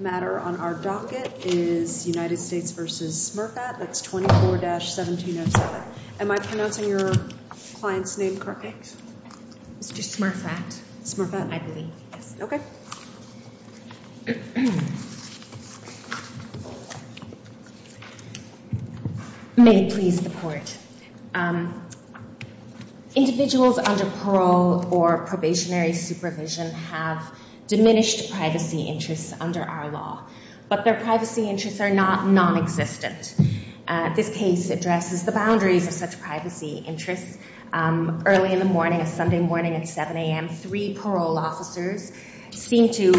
matter on our docket is United States v. Smurphat, that's 24-1707. Am I pronouncing your client's name correctly? Mr. Smurphat. Smurphat? I believe, yes. Okay. May it please the court. Individuals under parole or probationary supervision have diminished privacy interests under our law, but their privacy interests are not non-existent. This case addresses the boundaries of such privacy interests. Early in the morning, a Sunday morning at 7 a.m., three parole officers seemed to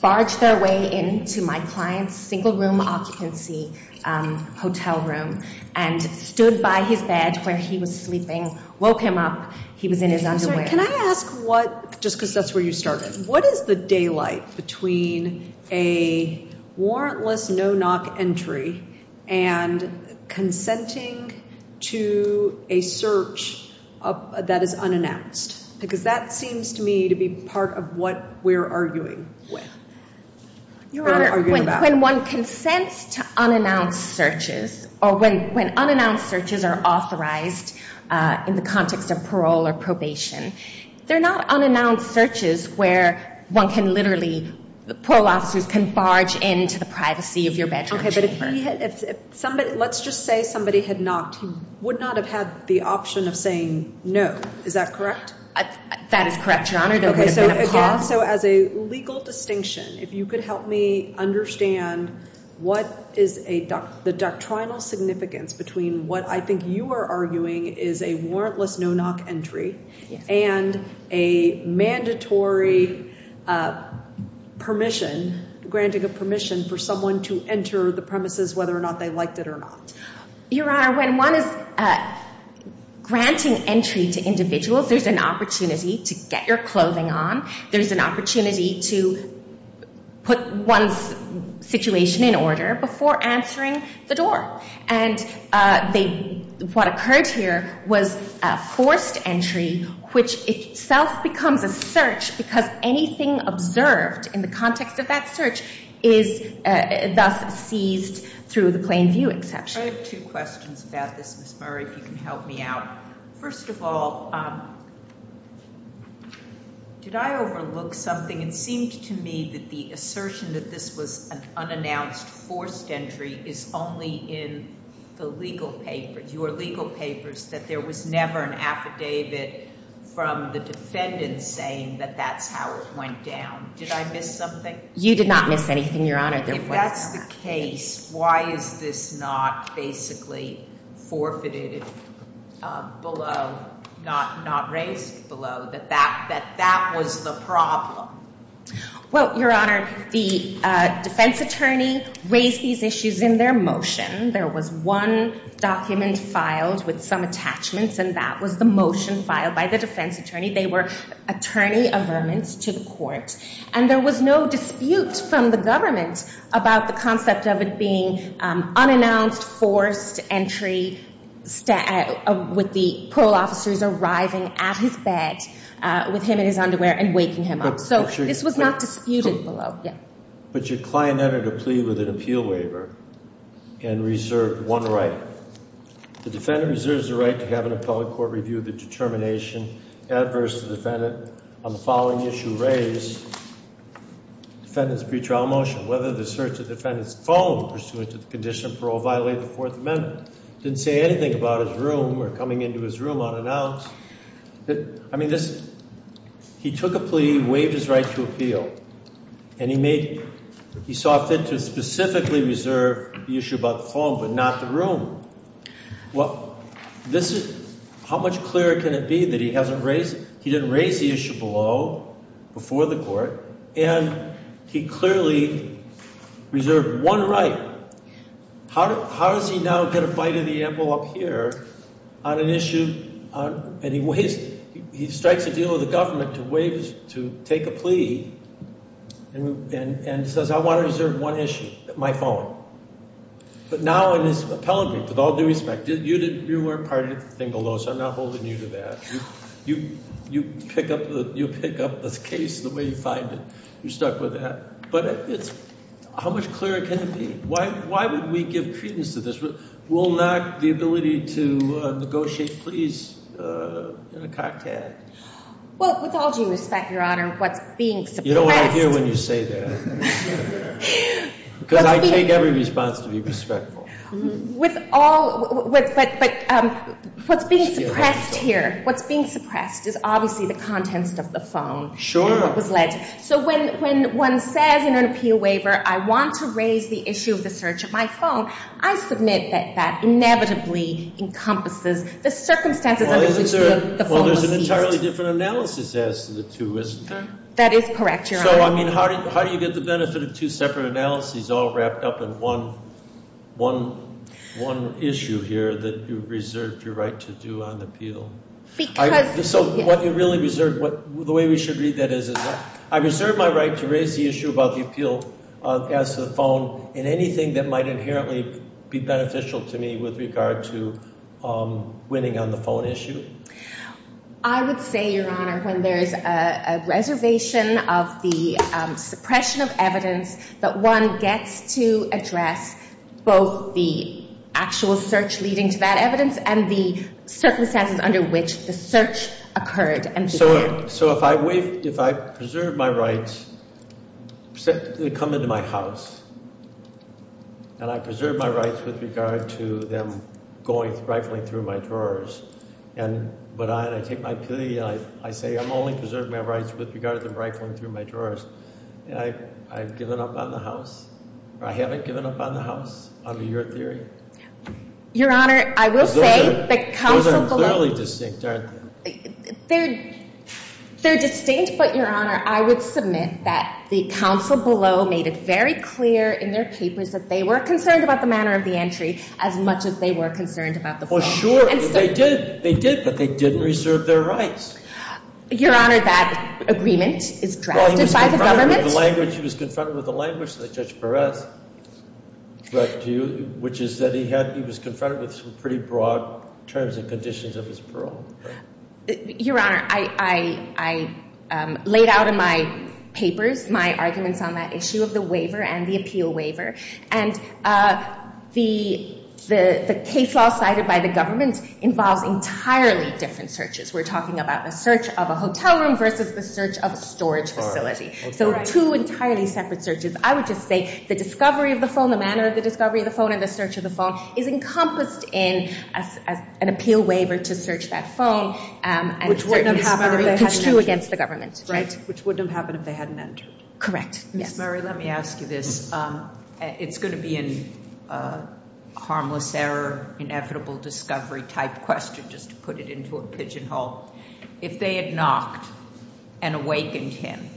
barge their way into my client's single room occupancy hotel room and stood by his bed where he was sleeping, woke him up, he was in his underwear. Can I ask what, just because that's where you started, what is the daylight between a warrantless no-knock entry and consenting to a search that is unannounced? Because that seems to me to be part of what we're arguing with. Your Honor, when one consents to unannounced searches or when unannounced searches are authorized in the context of parole or probation, they're not unannounced searches where one can literally, the parole officers can barge into the privacy of your bedroom. Okay, but if he had, if somebody, let's just say somebody had knocked, he would not have had the option of saying no. Is that correct? That is correct, Your Honor. Okay, so again, so as a legal distinction, if you could help me understand what is a, the doctrinal significance between what I think you are arguing is a warrantless no-knock entry and a mandatory permission, granting a permission for someone to enter the premises whether or not they liked it or not. Your Honor, when one is granting entry to individuals, there's an opportunity to get your clothing on, there's an opportunity to put one's situation in order before answering the door. And they, what occurred here was a forced entry which itself becomes a search because anything observed in the context of that search is thus seized through the plain view exception. I have two questions about this, Ms. Murray, if you can help me out. First of all, did I overlook something? It seemed to me that the assertion that this was an unannounced forced entry is only in the legal papers, your legal papers, that there was never an affidavit from the defendant saying that that's how it went down. Did I miss something? You did not miss anything, Your Honor. If that's the case, why is this not basically forfeited below, not raised below, that that was the problem? Well, Your Honor, the defense attorney raised these issues in their motion. There was one document filed with some attachments and that was the motion filed by the defense attorney. They were attorney amendments to the court and there was no dispute from the government about the concept of being unannounced, forced entry, with the parole officers arriving at his bed with him in his underwear and waking him up. So this was not disputed below. But your client entered a plea with an appeal waiver and reserved one right. The defendant reserves the right to have an appellate court review of the determination adverse to the defendant on the following issue raised, defendant's pretrial motion, whether the search of the defendant's phone pursuant to the condition of parole violate the Fourth Amendment. Didn't say anything about his room or coming into his room unannounced. I mean, this, he took a plea, waived his right to appeal, and he made, he saw fit to specifically reserve the issue about the phone but not the room. Well, this is, how much clearer can it be that he hasn't raised, he didn't raise the issue below, before the court, and he clearly reserved one right. How does he now get a bite of the apple up here on an issue on, and he waives, he strikes a deal with the government to waive, to take a plea and says, I want to reserve one issue, my phone. But now in his appellate brief, with all due respect, you didn't, you weren't part of the thing below, so I'm not holding you to that. You pick up the case the way you find it. You're stuck with that. But it's, how much clearer can it be? Why would we give credence to this? Will not the ability to negotiate pleas in a cocktail? Well, with all due respect, Your Honor, what's being suppressed. You know what I hear when you say that. Because I take every response to be respectful. With all, but what's being suppressed here, what's being suppressed is obviously the contents of the phone. Sure. So when one says in an appeal waiver, I want to raise the issue of the search of my phone, I submit that that inevitably encompasses the circumstances under which the phone was seized. Well, there's an entirely different analysis as to the two, isn't there? That is correct, Your Honor. So, I mean, how do you get the benefit of two separate analyses all wrapped up in one issue here that you reserved your right to do on the appeal? So what you really reserved, the way we should read that is, I reserved my right to raise the issue about the appeal as to the phone in anything that might inherently be beneficial to me with regard to winning on the phone issue. I would say, Your Honor, when there's a reservation of the suppression of evidence that one gets to address both the actual search leading to that evidence and the circumstances under which the search occurred. So if I preserve my rights, they come into my house, and I preserve my rights with regard to them going, rifling through my drawers. But I take my pity and I say I'm only preserving my rights with regard to them rifling through my drawers. I've given up on the house, or I haven't given up on the house, under your theory? Your Honor, I will say the counsel below... Those are clearly distinct, aren't they? They're distinct, but, Your Honor, I would submit that the counsel below made it very clear in their papers that they were concerned about the manner of the entry as much as they were concerned about the phone. Well, sure, they did. They did, but they didn't reserve their rights. Your Honor, that agreement is drafted by the government. He was confronted with the language that Judge Perez drafted to you, which is that he was confronted with some pretty broad terms and conditions of his parole. Your Honor, I laid out in my papers my arguments on that issue of the waiver and the appeal waiver. And the case law cited by the government involves entirely different searches. We're talking about the search of a hotel room versus the search of a storage facility. So two entirely separate searches. I would just say the discovery of the phone, the manner of the discovery of the phone, and the search of the phone is encompassed in an appeal waiver to search that phone. Which wouldn't have happened if they hadn't entered. Right, which wouldn't have happened if they hadn't entered. Correct, yes. Ms. Murray, let me ask you this. It's going to be a harmless error, inevitable discovery type question, just to put it into a pigeon hole. If they had knocked and awakened him,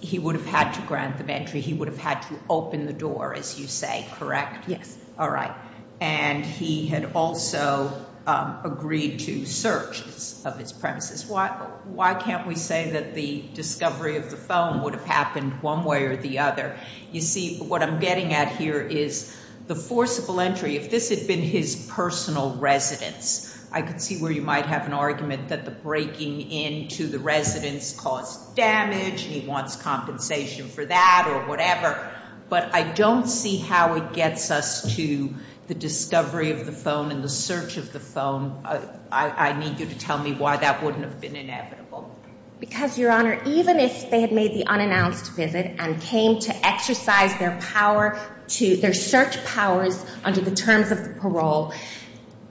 he would have had to grant them entry. He would have had to open the door, as you say, correct? Yes. All right. And he had also agreed to searches of his premises. Why can't we say that the discovery of the phone would have happened one way or the other? You see, what I'm getting at here is the forcible entry, if this had been his personal residence, I could see where you might have an argument that the breaking into the residence caused damage, and he wants compensation for that or whatever. But I don't see how it gets us to the discovery of the phone and the search of the phone. I need you to tell me why that wouldn't have been inevitable. Because, Your Honor, even if they had made the unannounced visit and came to exercise their power, their search powers under the terms of the parole,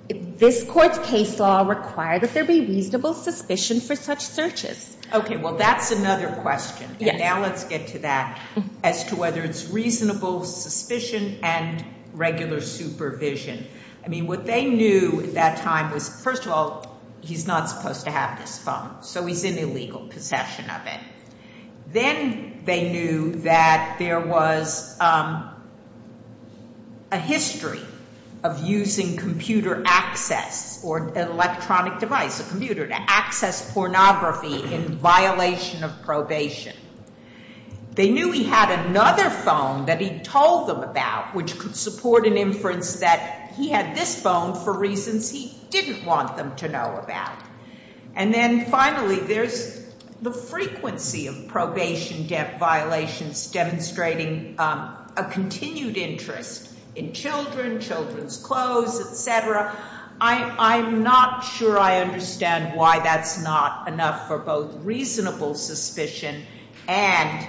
this Court's case law required that there be reasonable suspicion for such searches. Okay. Well, that's another question. Yes. And now let's get to that, as to whether it's reasonable suspicion and regular supervision. I mean, what they knew at that time was, first of all, he's not supposed to have this phone, so he's in illegal possession of it. Then they knew that there was a history of using computer access or an electronic device, a computer, to access pornography in violation of probation. They knew he had another phone that he told them about, which could support an inference that he had this phone for reasons he didn't want them to know about. And then, finally, there's the frequency of probation debt violations demonstrating a continued interest in children, children's clothes, et cetera. I'm not sure I understand why that's not enough for both reasonable suspicion and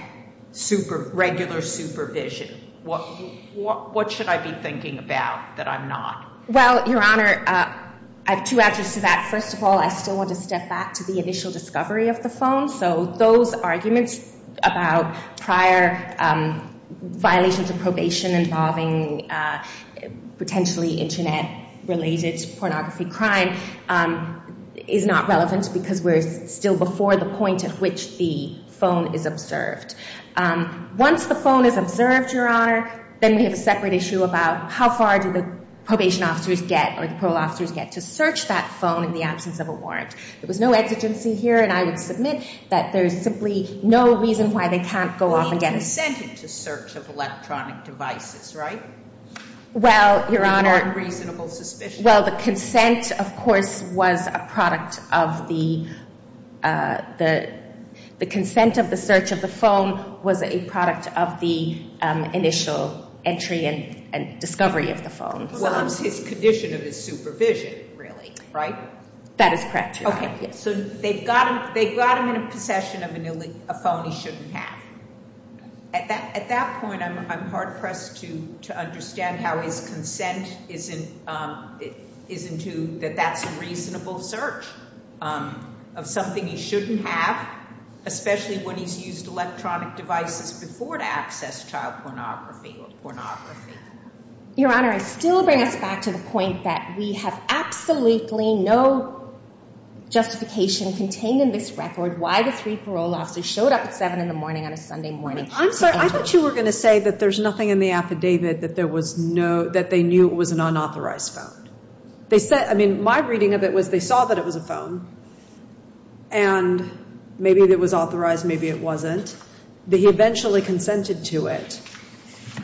regular supervision. What should I be thinking about that I'm not? Well, Your Honor, I have two answers to that. First of all, I still want to step back to the initial discovery of the phone. So those arguments about prior violations of probation involving potentially Internet-related pornography crime is not relevant because we're still before the point at which the phone is observed. Once the phone is observed, Your Honor, then we have a separate issue about how far do the probation officers get or the parole officers get to search that phone in the absence of a warrant. There was no exigency here, and I would submit that there's simply no reason why they can't go off and get it. They consented to search of electronic devices, right? Well, Your Honor. It would be more than reasonable suspicion. Well, the consent, of course, was a product of the initial entry and discovery of the phone. Well, it's his condition of his supervision, really, right? That is correct, Your Honor. So they've got him in a possession of a phone he shouldn't have. At that point, I'm hard-pressed to understand how his consent isn't to that that's a reasonable search of something he shouldn't have, especially when he's used electronic devices before to access child pornography or pornography. Your Honor, I still bring us back to the point that we have absolutely no justification contained in this record why the three parole officers showed up at 7 in the morning on a Sunday morning. I'm sorry. I thought you were going to say that there's nothing in the affidavit that there was no, that they knew it was an unauthorized phone. They said, I mean, my reading of it was they saw that it was a phone, and maybe it was authorized, maybe it wasn't. They eventually consented to it.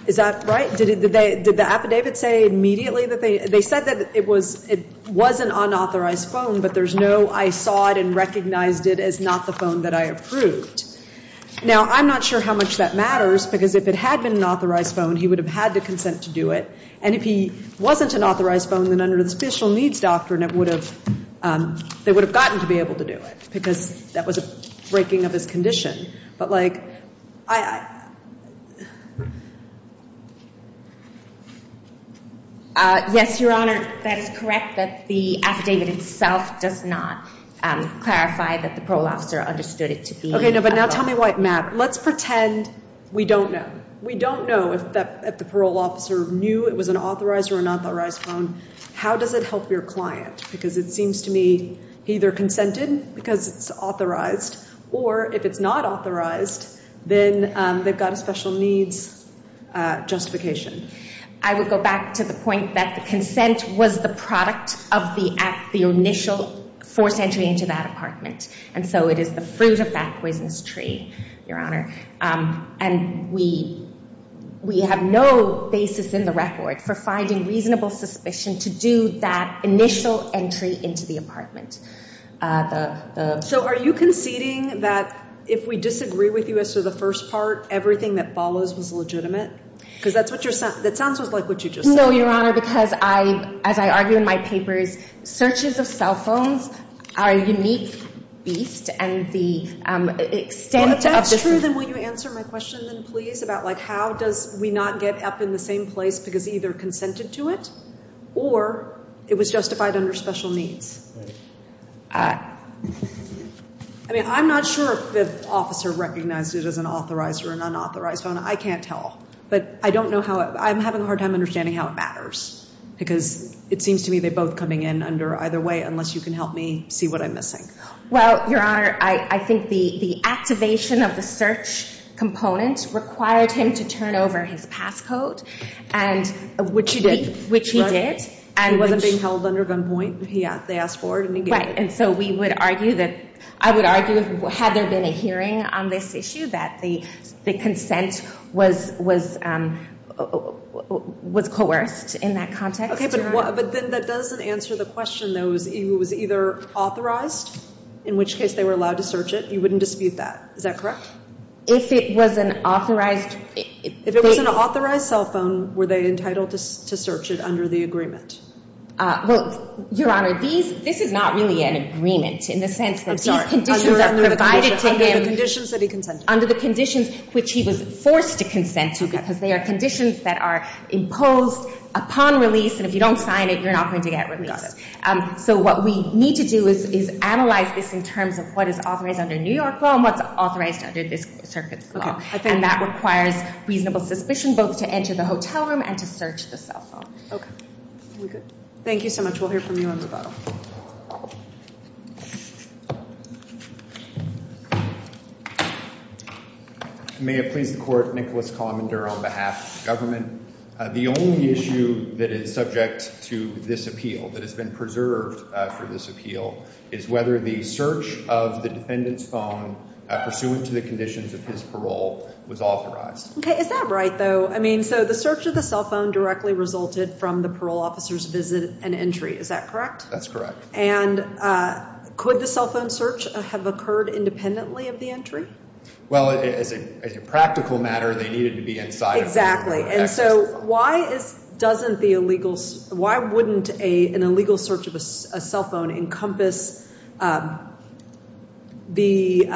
Is that right? Did the affidavit say immediately that they, they said that it was, it was an unauthorized phone, but there's no, I saw it and recognized it as not the phone that I approved? Now, I'm not sure how much that matters, because if it had been an authorized phone, he would have had the consent to do it. And if he wasn't an authorized phone, then under the Special Needs Doctrine, it would have, they would have gotten to be able to do it, because that was a breaking of his condition. But, like, I, I. Yes, Your Honor, that is correct that the affidavit itself does not clarify that the parole officer understood it to be. Okay, no, but now tell me why, Matt. Let's pretend we don't know. We don't know if the parole officer knew it was an authorized or unauthorized phone. How does it help your client? Because it seems to me he either consented because it's authorized, or if it's not authorized, then they've got a special needs justification. I would go back to the point that the consent was the product of the act, the initial forced entry into that apartment. And so it is the fruit of that poisonous tree, Your Honor. And we, we have no basis in the record for finding reasonable suspicion to do that initial entry into the apartment. So are you conceding that if we disagree with you as to the first part, everything that follows was legitimate? Because that's what your, that sounds just like what you just said. No, Your Honor, because I, as I argue in my papers, searches of cell phones are a unique beast, and the extent of. Then will you answer my question, then, please, about like how does we not get up in the same place because either consented to it, or it was justified under special needs? I mean, I'm not sure if the officer recognized it as an authorized or an unauthorized phone. I can't tell. But I don't know how, I'm having a hard time understanding how it matters, because it seems to me they're both coming in under either way, unless you can help me see what I'm missing. Well, Your Honor, I, I think the, the activation of the search component required him to turn over his passcode, and. Which he did. Which he did. And which. He wasn't being held under gunpoint. He, they asked for it, and he gave it. Right. And so we would argue that, I would argue, had there been a hearing on this issue, that the, the consent was, was, was coerced in that context. Okay, but, but then that doesn't answer the question, though. It was either authorized, in which case they were allowed to search it. You wouldn't dispute that. Is that correct? If it was an authorized. If it was an authorized cell phone, were they entitled to search it under the agreement? Well, Your Honor, these, this is not really an agreement in the sense that these conditions are provided to him. Under the conditions that he consented to. Under the conditions which he was forced to consent to, because they are conditions that are imposed upon release, and if you don't sign it, you're not going to get released. So what we need to do is, is analyze this in terms of what is authorized under New York law and what's authorized under this circuit's law. And that requires reasonable suspicion, both to enter the hotel room and to search the cell phone. Okay. Very good. Thank you so much. We'll hear from you on rebuttal. May it please the court. Nicholas Commender on behalf of the government. The only issue that is subject to this appeal, that has been preserved for this appeal, is whether the search of the defendant's phone, pursuant to the conditions of his parole, was authorized. Okay. Is that right, though? I mean, so the search of the cell phone directly resulted from the parole officer's visit and entry. Is that correct? That's correct. And could the cell phone search have occurred independently of the entry? Well, as a practical matter, they needed to be inside of the access. Exactly. And so why is, doesn't the illegal, why wouldn't an illegal search of a cell phone encompass the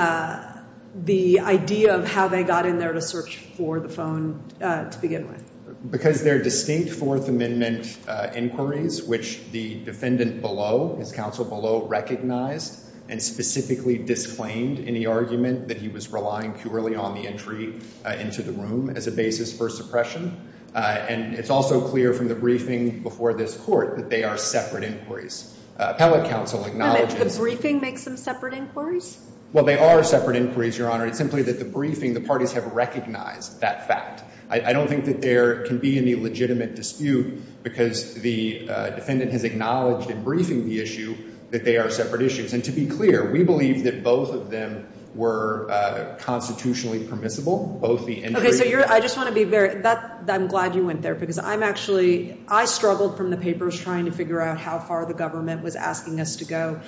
idea of how they got in there to search for the phone to begin with? Because they're distinct Fourth Amendment inquiries, which the defendant below, his counsel below, recognized and specifically disclaimed in the argument that he was relying purely on the entry into the room as a basis for suppression. And it's also clear from the briefing before this court that they are separate inquiries. Appellate counsel acknowledges. And the briefing makes them separate inquiries? Well, they are separate inquiries, Your Honor. It's simply that the briefing, the parties have recognized that fact. I don't think that there can be any legitimate dispute because the defendant has acknowledged in briefing the issue that they are separate issues. And to be clear, we believe that both of them were constitutionally permissible, both the entry. Okay, so I just want to be very, I'm glad you went there because I'm actually, I struggled from the papers trying to figure out how far the government was asking us to go.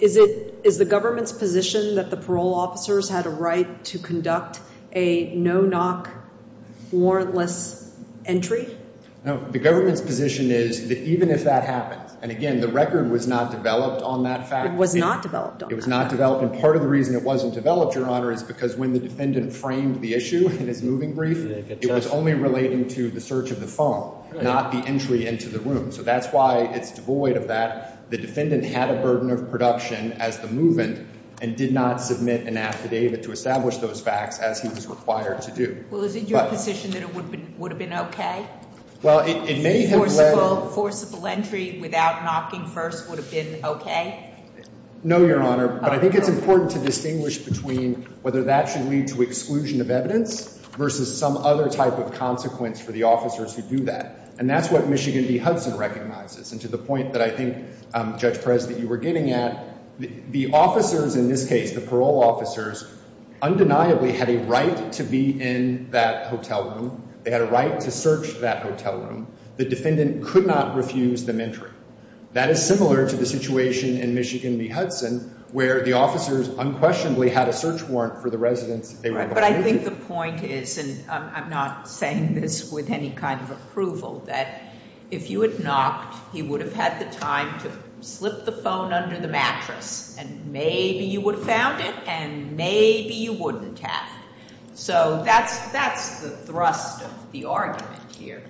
Is the government's position that the parole officers had a right to conduct a no-knock warrantless entry? No, the government's position is that even if that happens, and again, the record was not developed on that fact. It was not developed on that. It was not developed. And part of the reason it wasn't developed, Your Honor, is because when the defendant framed the issue in his moving brief, it was only relating to the search of the phone, not the entry into the room. So that's why it's devoid of that. The defendant had a burden of production as the move-in and did not submit an affidavit to establish those facts as he was required to do. Well, is it your position that it would have been okay? Well, it may have led... Forcible entry without knocking first would have been okay? No, Your Honor. But I think it's important to distinguish between whether that should lead to exclusion of evidence versus some other type of consequence for the officers who do that. And that's what Michigan v. Hudson recognizes. And to the point that I think, Judge Perez, that you were getting at, the officers in this case, the parole officers, undeniably had a right to be in that hotel room. They had a right to search that hotel room. The defendant could not refuse them entry. That is similar to the situation in Michigan v. Hudson where the officers unquestionably had a search warrant for the residence they were located in. But I think the point is, and I'm not saying this with any kind of approval, that if you had knocked, he would have had the time to slip the phone under the mattress. And maybe you would have found it, and maybe you wouldn't have. So that's the thrust of the argument here.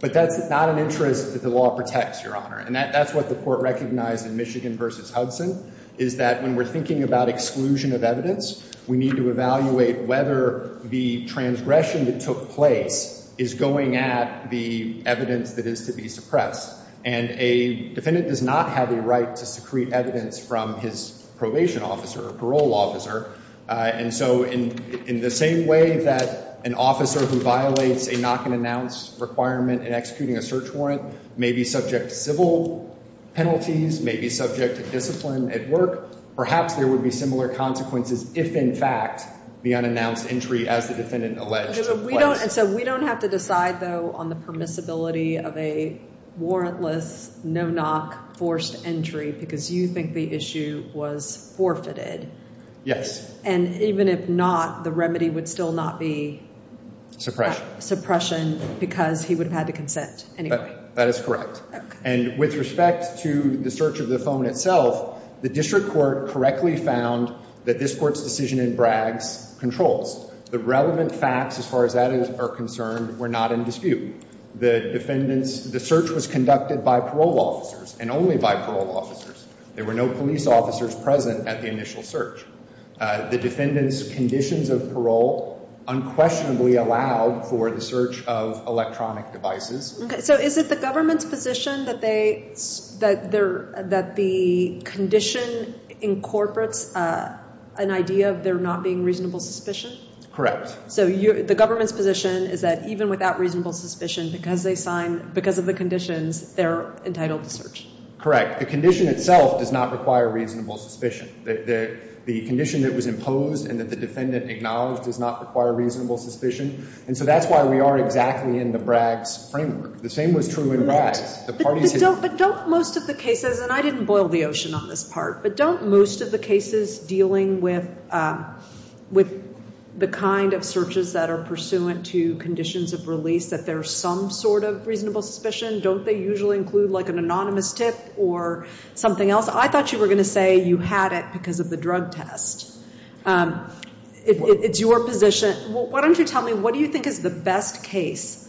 But that's not an interest that the law protects, Your Honor. And that's what the court recognized in Michigan v. Hudson, is that when we're thinking about exclusion of evidence, we need to evaluate whether the transgression that took place is going at the evidence that is to be suppressed. And a defendant does not have a right to secrete evidence from his probation officer or parole officer. And so in the same way that an officer who violates a knock-and-announce requirement in executing a search warrant may be subject to civil penalties, may be subject to discipline at work, perhaps there would be similar consequences if, in fact, the unannounced entry as the defendant alleged took place. So we don't have to decide, though, on the permissibility of a warrantless, no-knock forced entry because you think the issue was forfeited. Yes. And even if not, the remedy would still not be suppression because he would have had to consent anyway. That is correct. And with respect to the search of the phone itself, the district court correctly found that this court's decision in Bragg's controls. The relevant facts, as far as that is concerned, were not in dispute. The search was conducted by parole officers and only by parole officers. There were no police officers present at the initial search. The defendant's conditions of parole unquestionably allowed for the search of electronic devices. Okay. So is it the government's position that the condition incorporates an idea of there not being reasonable suspicion? Correct. So the government's position is that even without reasonable suspicion, because of the conditions, they're entitled to search? Correct. The condition itself does not require reasonable suspicion. The condition that was imposed and that the defendant acknowledged does not require reasonable suspicion. And so that's why we are exactly in the Bragg's framework. The same was true in Bragg's. But don't most of the cases, and I didn't boil the ocean on this part, but don't most of the cases dealing with the kind of searches that are pursuant to conditions of release, that there's some sort of reasonable suspicion? Don't they usually include, like, an anonymous tip or something else? I thought you were going to say you had it because of the drug test. It's your position. Why don't you tell me, what do you think is the best case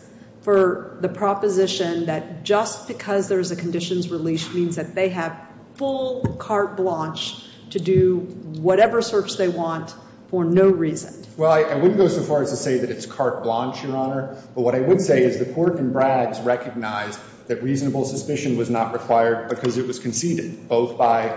for the proposition that just because there's a conditions release means that they have full carte blanche to do whatever search they want for no reason? Well, I wouldn't go so far as to say that it's carte blanche, Your Honor. But what I would say is the court in Bragg's recognized that reasonable suspicion was not required because it was conceded, both by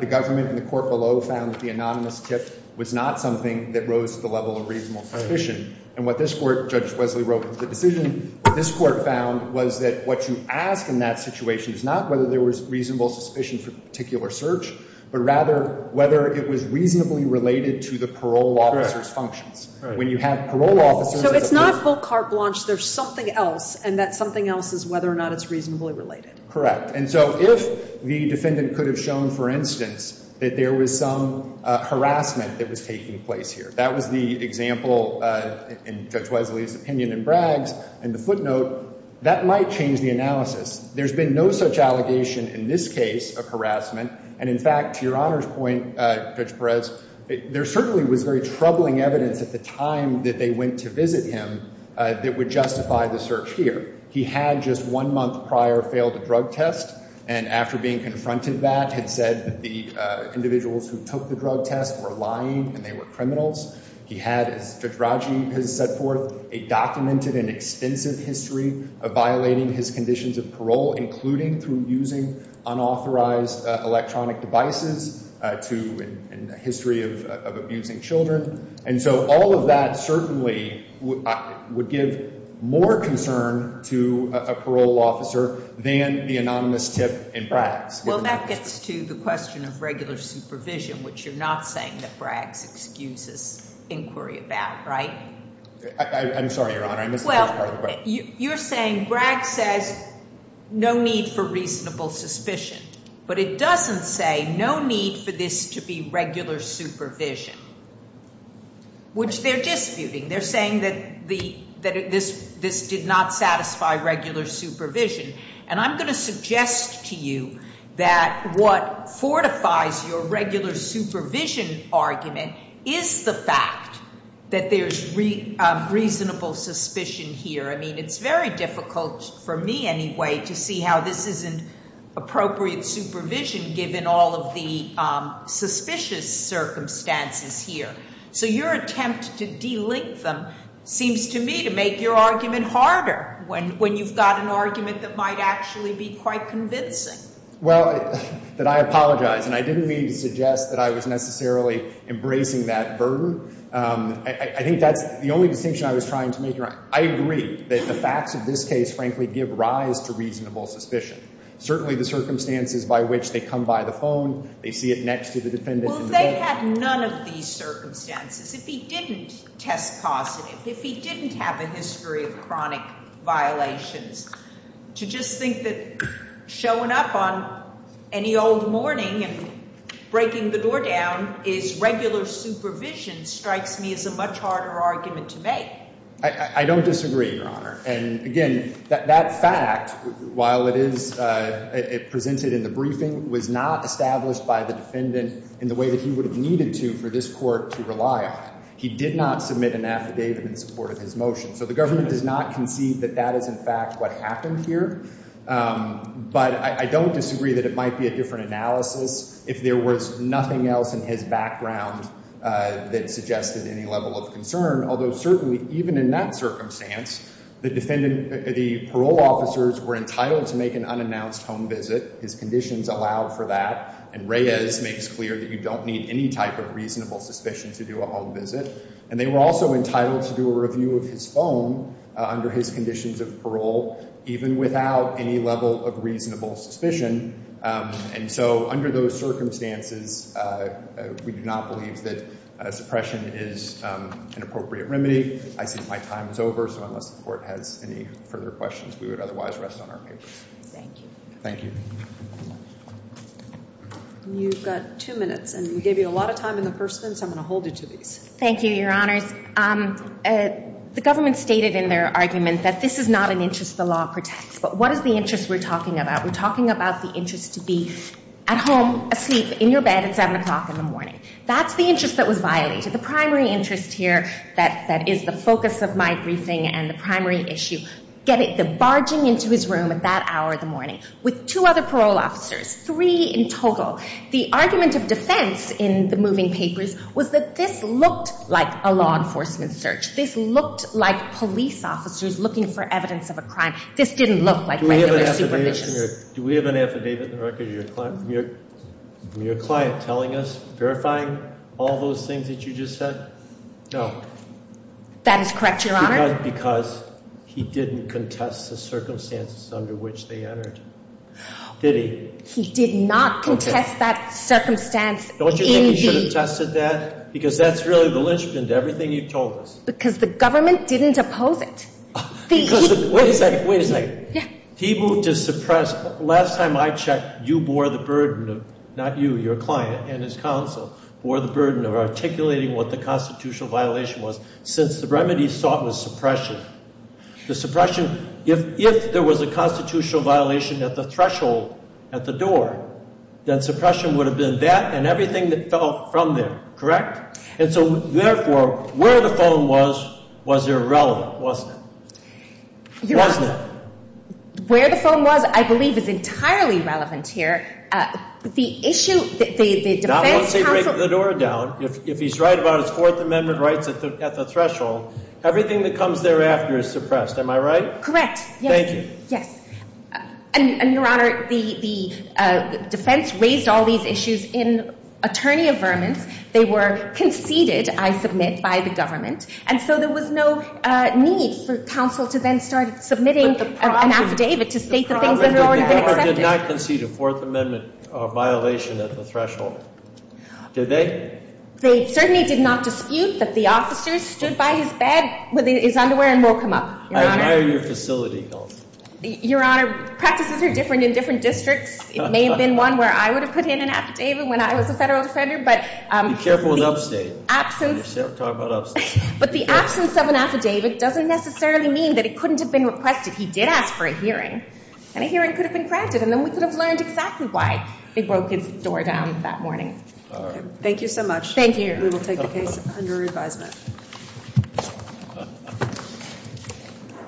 the government and the court below found that the anonymous tip was not something that rose to the level of reasonable suspicion. And what this court, Judge Wesley wrote in the decision, what this court found was that what you ask in that situation is not whether there was reasonable suspicion for a particular search, but rather whether it was reasonably related to the parole officer's search. So it's not full carte blanche, there's something else, and that something else is whether or not it's reasonably related. Correct. And so if the defendant could have shown, for instance, that there was some harassment that was taking place here, that was the example in Judge Wesley's opinion in Bragg's, and the footnote, that might change the analysis. There's been no such allegation in this case of harassment. And in fact, to Your Honor's point, Judge Perez, there certainly was very troubling evidence at the time that they went to visit him that would justify the search here. He had just one month prior failed a drug test, and after being confronted that, had said that the individuals who took the drug test were lying and they were criminals. He had, as Judge Rajiv has set forth, a documented and extensive history of violating his conditions of parole, including through using unauthorized electronic devices, and a history of abusing children. And so all of that certainly would give more concern to a parole officer than the anonymous tip in Bragg's. Well, that gets to the question of regular supervision, which you're not saying that Bragg's excuses inquiry about, right? I'm sorry, Your Honor. Well, you're saying Bragg says no need for reasonable suspicion, but it doesn't say no need for this to be regular supervision, which they're disputing. They're saying that this did not satisfy regular supervision. And I'm going to suggest to you that what fortifies your regular supervision argument is the fact that there's reasonable suspicion here. I mean, it's very difficult for me anyway to see how this isn't appropriate supervision given all of the suspicious circumstances here. So your attempt to delink them seems to me to make your argument harder when you've got an argument that might actually be quite convincing. Well, that I apologize. And I didn't mean to suggest that I was necessarily embracing that burden. I think that's the only distinction I was trying to make, Your Honor. I agree that the facts of this case, frankly, give rise to reasonable suspicion. Certainly the circumstances by which they come by the phone, they see it next to the defendant in the building. If they had none of these circumstances, if he didn't test positive, if he didn't have a history of chronic violations, to just think that showing up on any old morning and breaking the door down is regular supervision strikes me as a much harder argument to make. I don't disagree, Your Honor. And again, that fact, while it is presented in the briefing, was not established by the defendant in the way that he would have needed to for this court to rely on. He did not submit an affidavit in support of his motion. So the government does not concede that that is, in fact, what happened here. But I don't disagree that it might be a different analysis if there was nothing else in his background that suggested any level of concern. Although certainly, even in that circumstance, the parole officers were entitled to make an unannounced home visit. His conditions allowed for that. And Reyes makes clear that you don't need any type of reasonable suspicion to do a home visit. And they were also entitled to do a review of his phone under his conditions of parole, even without any level of reasonable suspicion. And so under those circumstances, we do not believe that suppression is an appropriate remedy. I see my time is over. So unless the court has any further questions, we would otherwise rest on our papers. Thank you. Thank you. You've got two minutes. And we gave you a lot of time in the first instance. I'm going to hold you to these. Thank you, Your Honors. The government stated in their argument that this is not an interest the law protects. But what is the interest we're talking about? We're talking about the interest to be at home, asleep, in your bed at 7 o'clock in the morning. That's the interest that was violated. The primary interest here that is the focus of my briefing and the primary issue, get the barging into his room at that hour in the morning with two other parole officers, three in total. The argument of defense in the moving papers was that this looked like a law enforcement search. This looked like police officers looking for evidence of a crime. This didn't look like regular supervision. Do we have an affidavit in the record of your client telling us, verifying all those things that you just said? No. That is correct, Your Honor. Because he didn't contest the circumstances under which they entered, did he? He did not contest that circumstance in the- Don't you think he should have tested that? Because that's really the linchpin to everything you've told us. Because the government didn't oppose it. Because the- Wait a second. Wait a second. Yeah. He moved to suppress. Last time I checked, you bore the burden of-not you, your client and his counsel-bore the burden of articulating what the constitutional violation was since the remedy sought was suppression. The suppression-if there was a constitutional violation at the threshold, at the door, then suppression would have been that and everything that fell from there. Correct? And so, therefore, where the phone was, was irrelevant, wasn't it? Wasn't it? Where the phone was, I believe, is entirely relevant here. The issue-the defense counsel- Not once they break the door down. If he's right about his Fourth Amendment rights at the threshold, everything that comes thereafter is suppressed. Am I right? Correct. Yes. Thank you. Yes. And, Your Honor, the defense raised all these issues in attorney affirmance. They were conceded, I submit, by the government. And so there was no need for counsel to then start submitting an affidavit to state the things that had already been accepted. They did not concede a Fourth Amendment violation at the threshold, did they? They certainly did not dispute that the officer stood by his bed with his underwear and woke him up, Your Honor. I admire your facility, Counsel. Your Honor, practices are different in different districts. It may have been one where I would have put in an affidavit when I was a federal defender, but- Be careful with upstate. But the absence of an affidavit doesn't necessarily mean that it couldn't have been requested. He did ask for a hearing, and a hearing could have been granted. And then we could have learned exactly why they broke his door down that morning. Thank you so much. Thank you. We will take the case under re-advisement.